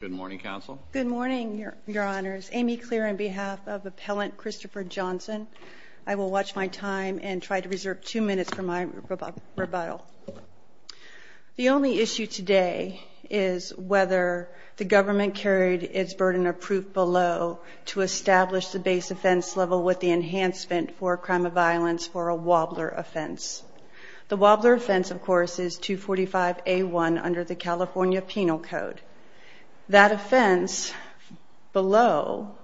Good morning, Counsel. Good morning, Your Honors. Amy Clear, on behalf of Appellant Christopher Johnson, I will watch my time and try to reserve two minutes for my rebuttal. The only issue today is whether the government carried its burden of proof below to establish the base offense level with the enhancement for a crime of violence for a wobbler offense. The wobbler offense, of course, is 245A1 under the California Penal Code. That offense below,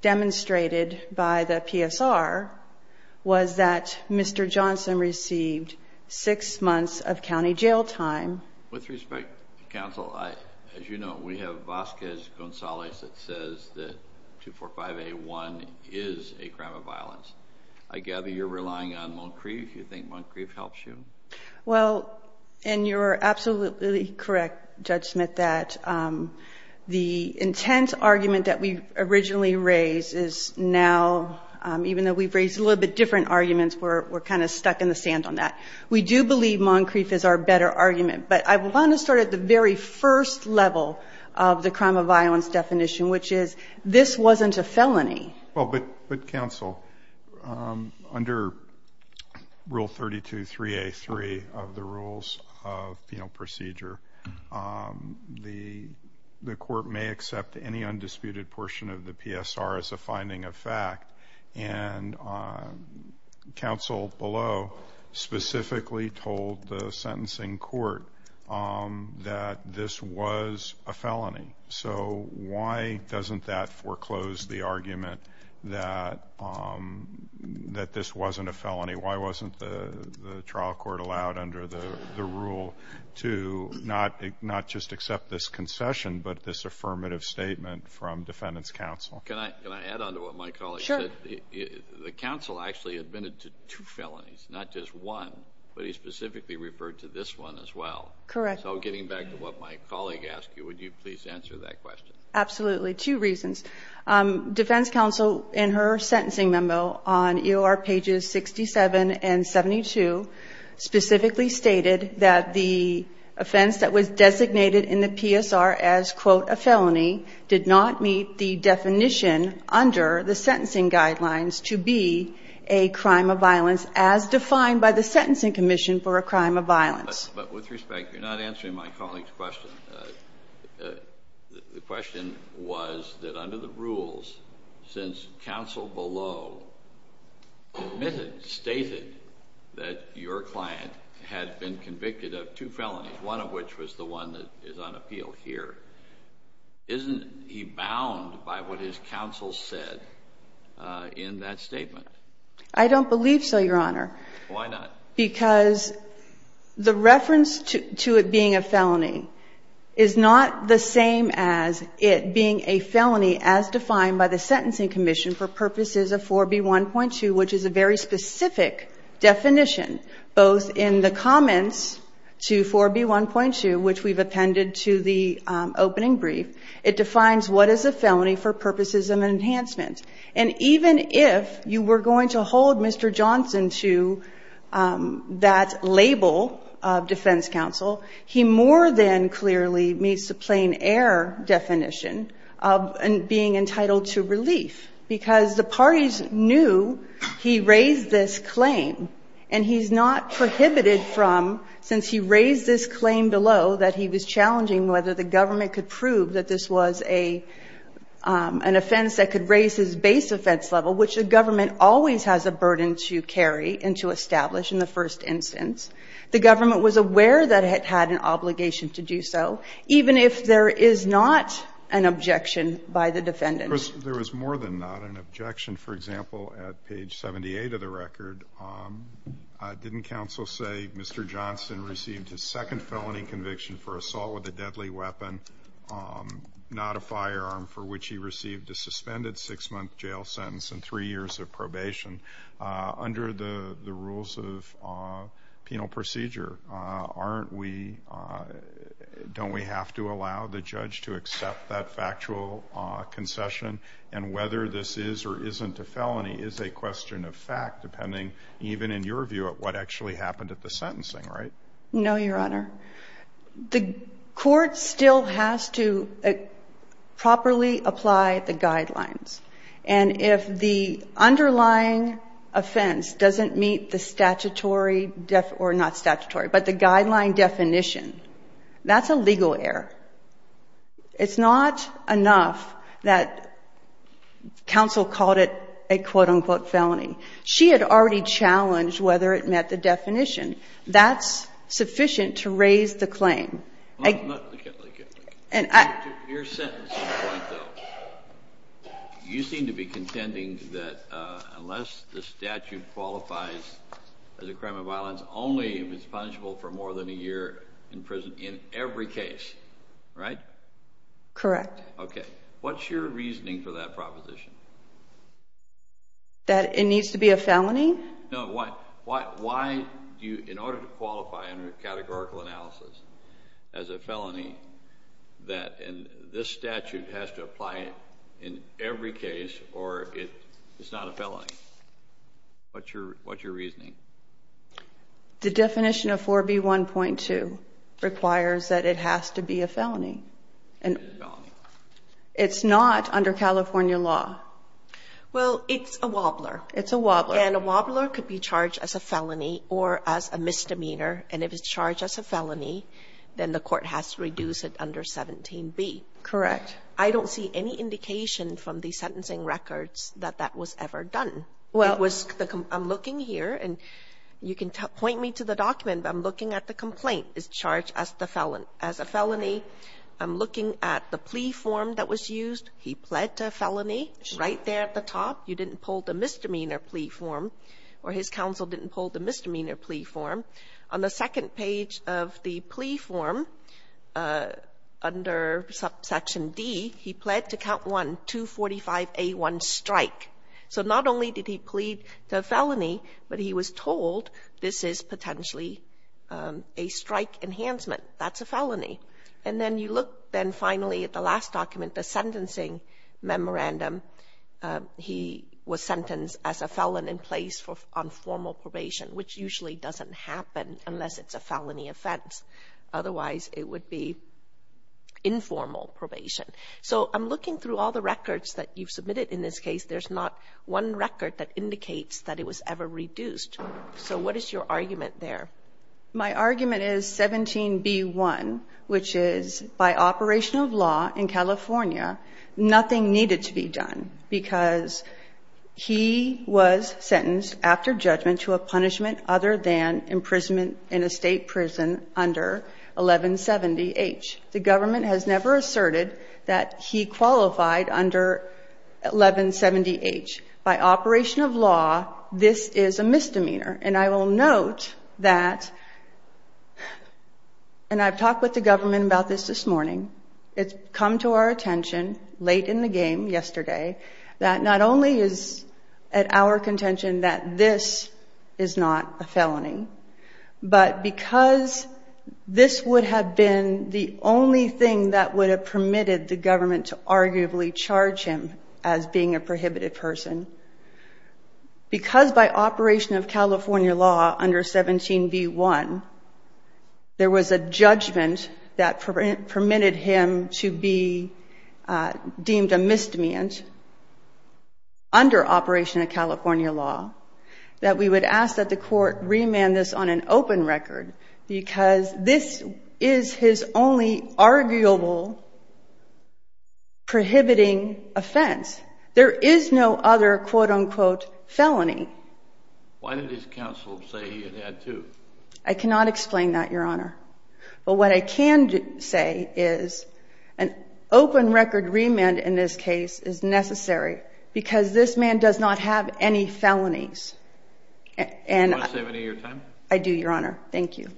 demonstrated by the PSR, was that Mr. Johnson received six months of county jail time. With respect, Counsel, as you know, we have Vasquez Gonzalez that says that 245A1 is a crime of violence. I gather you're relying on Moncrief. Do you think Moncrief helps you? Well, and you're absolutely correct, Judge Smith, that the intense argument that we originally raised is now, even though we've raised a little bit different arguments, we're kind of stuck in the sand on that. We do believe Moncrief is our better argument, but I want to start at the very first level of the crime of violence definition, which is this wasn't a felony. Well, but Counsel, under Rule 32.3A.3 of the Rules of Penal Procedure, the court may accept any undisputed portion of the PSR as a finding of fact. And Counsel below specifically told the sentencing court that this was a felony. So why doesn't that foreclose the argument that this wasn't a felony? Why wasn't the trial court allowed under the rule to not just accept this concession, but this affirmative statement from Defendant's Counsel? Can I add on to what my colleague said? Sure. The counsel actually admitted to two felonies, not just one, but he specifically referred to this one as well. Correct. So getting back to what my colleague asked you, would you please answer that question? Absolutely. Two reasons. Defendant's Counsel in her sentencing memo on EOR pages 67 and 72 specifically stated that the offense that was designated in the PSR as, quote, a felony did not meet the definition under the sentencing guidelines to be a crime of violence as defined by the Sentencing Commission for a crime of violence. But with respect, you're not answering my colleague's question. The question was that under the rules, since Counsel below admitted, stated that your client had been convicted of two felonies, one of which was the one that is on appeal here, isn't he bound by what his counsel said in that statement? I don't believe so, Your Honor. Why not? Because the reference to it being a felony is not the same as it being a felony as defined by the Sentencing Commission for purposes of 4B1.2, which is a very specific definition. Both in the comments to 4B1.2, which we've appended to the opening brief, it defines what is a felony for purposes of enhancement. And even if you were going to hold Mr. Johnson to that label of defense counsel, he more than clearly meets the plain-error definition of being entitled to relief, because the parties knew he raised this claim, and he's not prohibited from, since he raised this claim below that he was challenging whether the government could prove that this was an offense that could raise his base offense level, which the government always has a burden to carry and to establish in the first instance. The government was aware that it had an obligation to do so, even if there is not an objection by the defendant. There was more than not an objection. For example, at page 78 of the record, didn't counsel say Mr. Johnson received his second felony conviction for assault with a deadly weapon, not a firearm, for which he received a suspended six-month jail sentence and three years of probation? Under the rules of penal procedure, don't we have to allow the judge to accept that factual concession? And whether this is or isn't a felony is a question of fact, depending even in your view at what actually happened at the sentencing, right? No, Your Honor. The court still has to properly apply the guidelines, and if the underlying offense doesn't meet the statutory or not statutory, but the guideline definition, that's a legal error. It's not enough that counsel called it a quote-unquote felony. She had already challenged whether it met the definition. That's sufficient to raise the claim. To your sentencing point, though, you seem to be contending that unless the statute qualifies as a crime of violence, only if it's punishable for more than a year in prison in every case, right? Correct. Okay. What's your reasoning for that proposition? That it needs to be a felony? No. Why do you, in order to qualify under categorical analysis as a felony, that this statute has to apply in every case or it's not a felony? What's your reasoning? The definition of 4B1.2 requires that it has to be a felony. It is a felony. It's not under California law. Well, it's a wobbler. It's a wobbler. And a wobbler could be charged as a felony or as a misdemeanor, and if it's charged as a felony, then the court has to reduce it under 17B. Correct. I don't see any indication from the sentencing records that that was ever done. Well. I'm looking here, and you can point me to the document. I'm looking at the complaint. It's charged as a felony. I'm looking at the plea form that was used. He pled to a felony right there at the top. You didn't pull the misdemeanor plea form, or his counsel didn't pull the misdemeanor plea form. On the second page of the plea form under Section D, he pled to count 1, 245A1, strike. So not only did he plead to a felony, but he was told this is potentially a strike enhancement. That's a felony. And then you look then finally at the last document, the sentencing memorandum. He was sentenced as a felon in place on formal probation, which usually doesn't happen unless it's a felony offense. Otherwise, it would be informal probation. So I'm looking through all the records that you've submitted in this case. There's not one record that indicates that it was ever reduced. So what is your argument there? My argument is 17B1, which is by operation of law in California, nothing needed to be done because he was sentenced after judgment to a punishment other than imprisonment in a state prison under 1170H. The government has never asserted that he qualified under 1170H. By operation of law, this is a misdemeanor. And I will note that, and I've talked with the government about this this morning, it's come to our attention late in the game yesterday that not only is at our contention that this is not a felony, but because this would have been the only thing that would have permitted the government to arguably charge him as being a prohibited person, because by operation of California law under 17B1, there was a judgment that permitted him to be deemed a misdemeanor under operation of California law, that we would ask that the court remand this on an open record because this is his only arguable prohibiting offense. There is no other quote-unquote felony. Why did his counsel say he had had two? I cannot explain that, Your Honor. But what I can say is an open record remand in this case is necessary because this man does not have any felonies. Do you want to save any of your time? I do, Your Honor. Thank you.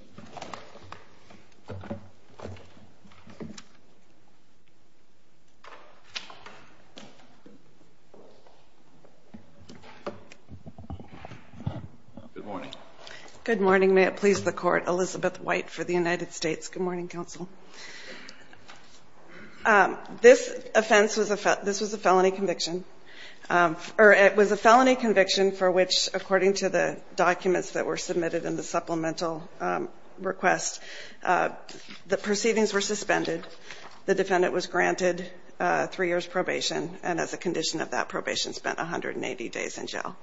Good morning. Good morning. May it please the Court, Elizabeth White for the United States. Good morning, counsel. This offense was a felony conviction, or it was a felony conviction for which, according to the documents that were submitted in the supplemental request, the proceedings were suspended. The defendant was granted three years' probation and as a condition of that probation spent 180 days in jail.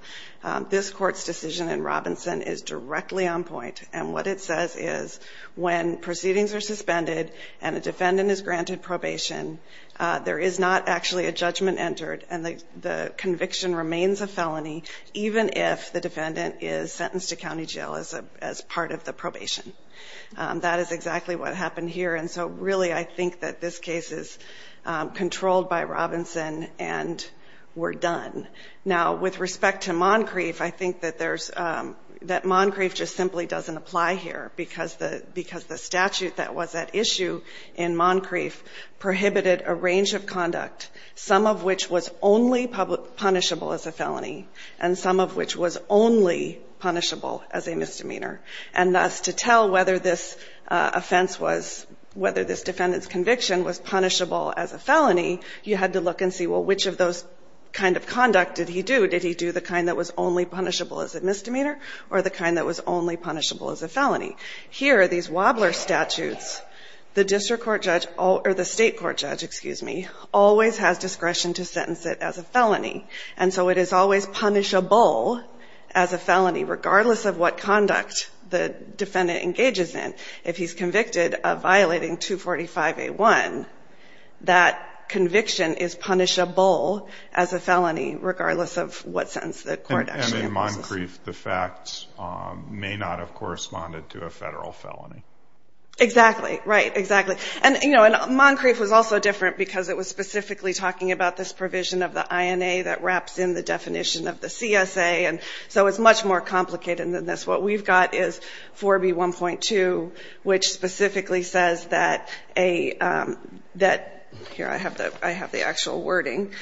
This Court's decision in Robinson is directly on point, and what it says is when proceedings are suspended and a defendant is granted probation, there is not actually a judgment entered and the conviction remains a felony, even if the defendant is sentenced to county jail as part of the probation. That is exactly what happened here, and so really I think that this case is controlled by Robinson and we're done. Now, with respect to Moncrief, I think that Moncrief just simply doesn't apply here because the statute that was at issue in Moncrief prohibited a range of conduct, some of which was only punishable as a felony and some of which was only punishable as a misdemeanor. And thus, to tell whether this offense was, whether this defendant's conviction was punishable as a felony, you had to look and see, well, which of those kind of conduct did he do? Did he do the kind that was only punishable as a misdemeanor or the kind that was only punishable as a felony? Here, these Wobbler statutes, the district court judge or the State court judge, excuse me, always has discretion to sentence it as a felony, and so it is always punishable as a felony, regardless of what conduct the defendant engages in. If he's convicted of violating 245A1, that conviction is punishable as a felony, regardless of what sentence the court actually imposes. And in Moncrief, the facts may not have corresponded to a federal felony. Exactly, right, exactly. And, you know, and Moncrief was also different because it was specifically talking about this provision of the INA that wraps in the definition of the CSA, and so it's much more complicated than this. What we've got is 4B1.2, which specifically says that a, that, here, I have the actual wording,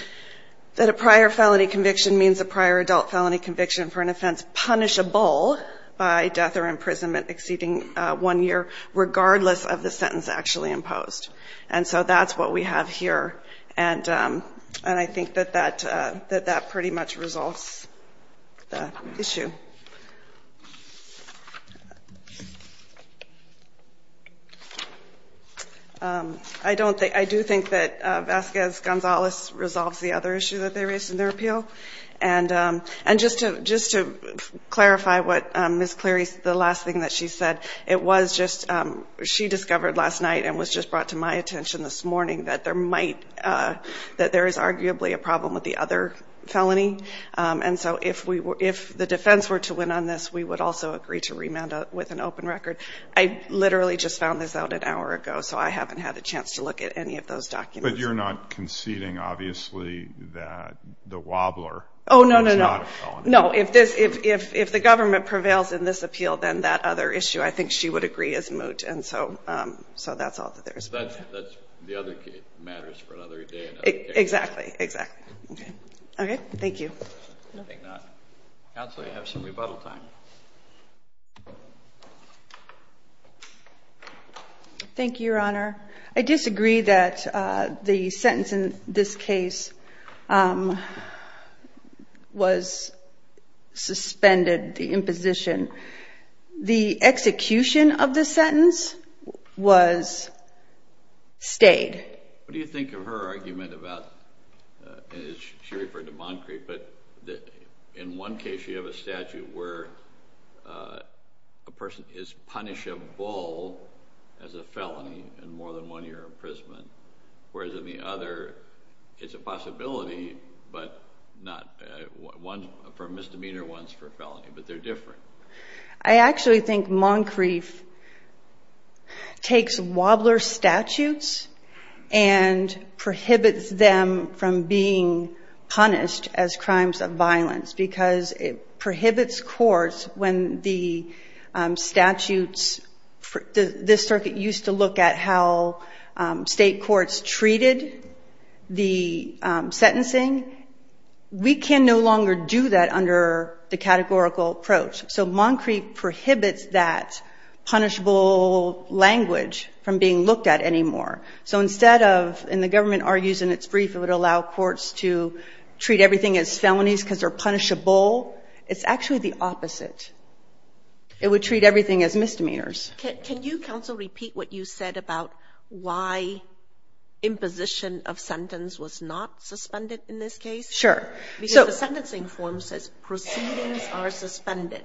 that a prior felony conviction means a prior adult felony conviction for an offense punishable by death or imprisonment exceeding one year, regardless of the sentence actually imposed. And so that's what we have here. And I think that that pretty much resolves the issue. I do think that Vasquez-Gonzalez resolves the other issue that they raised in their appeal. And just to clarify what Ms. Cleary, the last thing that she said, it was just, she discovered last night and was just brought to my attention this morning that there might, that there is arguably a problem with the other felony. And so if we were, if the defense were to win on this, we would also agree to remand with an open record. I literally just found this out an hour ago, so I haven't had a chance to look at any of those documents. But you're not conceding, obviously, that the wobbler is not a felony? Oh, no, no, no. No, if this, if the government prevails in this appeal, then that other issue I think she would agree is moot. And so that's all that there is. So that's the other case, matters for another day. Exactly, exactly. Okay. Okay. Thank you. Counsel, you have some rebuttal time. Thank you, Your Honor. I disagree that the sentence in this case was suspended, the imposition. The execution of the sentence was stayed. What do you think of her argument about, and she referred to Moncrief, but in one case you have a statute where a person is punishable as a felony in more than one year of imprisonment, whereas in the other it's a possibility, but not, one for misdemeanor, one's for felony, but they're different. I actually think Moncrief takes wobbler statutes and prohibits them from being punished as crimes of violence because it prohibits courts when the statutes, this circuit used to look at how state courts treated the sentencing. We can no longer do that under the categorical approach. So Moncrief prohibits that punishable language from being looked at anymore. So instead of, and the government argues in its brief it would allow courts to treat everything as felonies because they're punishable. It's actually the opposite. It would treat everything as misdemeanors. Can you, counsel, repeat what you said about why imposition of sentence was not suspended in this case? Sure. Because the sentencing form says proceedings are suspended,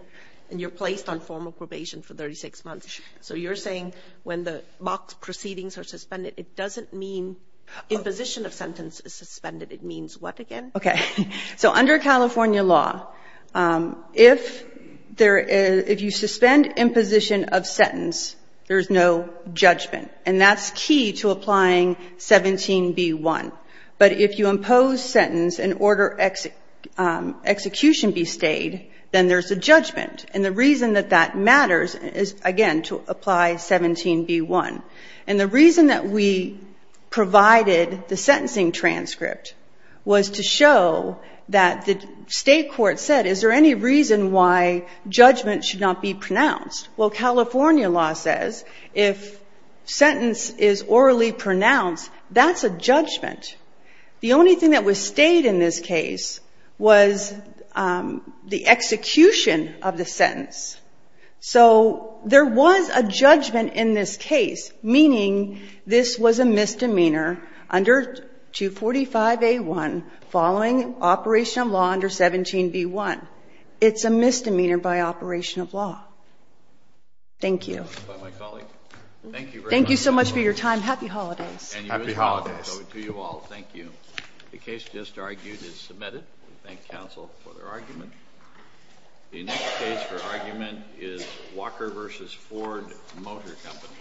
and you're placed on formal probation for 36 months. So you're saying when the mock proceedings are suspended, it doesn't mean imposition of sentence is suspended. It means what again? Okay. So under California law, if there is, if you suspend imposition of sentence, there's no judgment, and that's key to applying 17b-1. But if you impose sentence and order execution be stayed, then there's a judgment. And the reason that that matters is, again, to apply 17b-1. And the reason that we provided the sentencing transcript was to show that the state court said, is there any reason why judgment should not be pronounced? Well, California law says if sentence is orally pronounced, that's a judgment. The only thing that was stayed in this case was the execution of the sentence. So there was a judgment in this case, meaning this was a misdemeanor under 245a-1 following operation of law under 17b-1. It's a misdemeanor by operation of law. Thank you. Thank you so much for your time. Happy holidays. Happy holidays. To you all, thank you. The case just argued is submitted. We thank counsel for their argument. The next case for argument is Walker v. Ford Motor Company.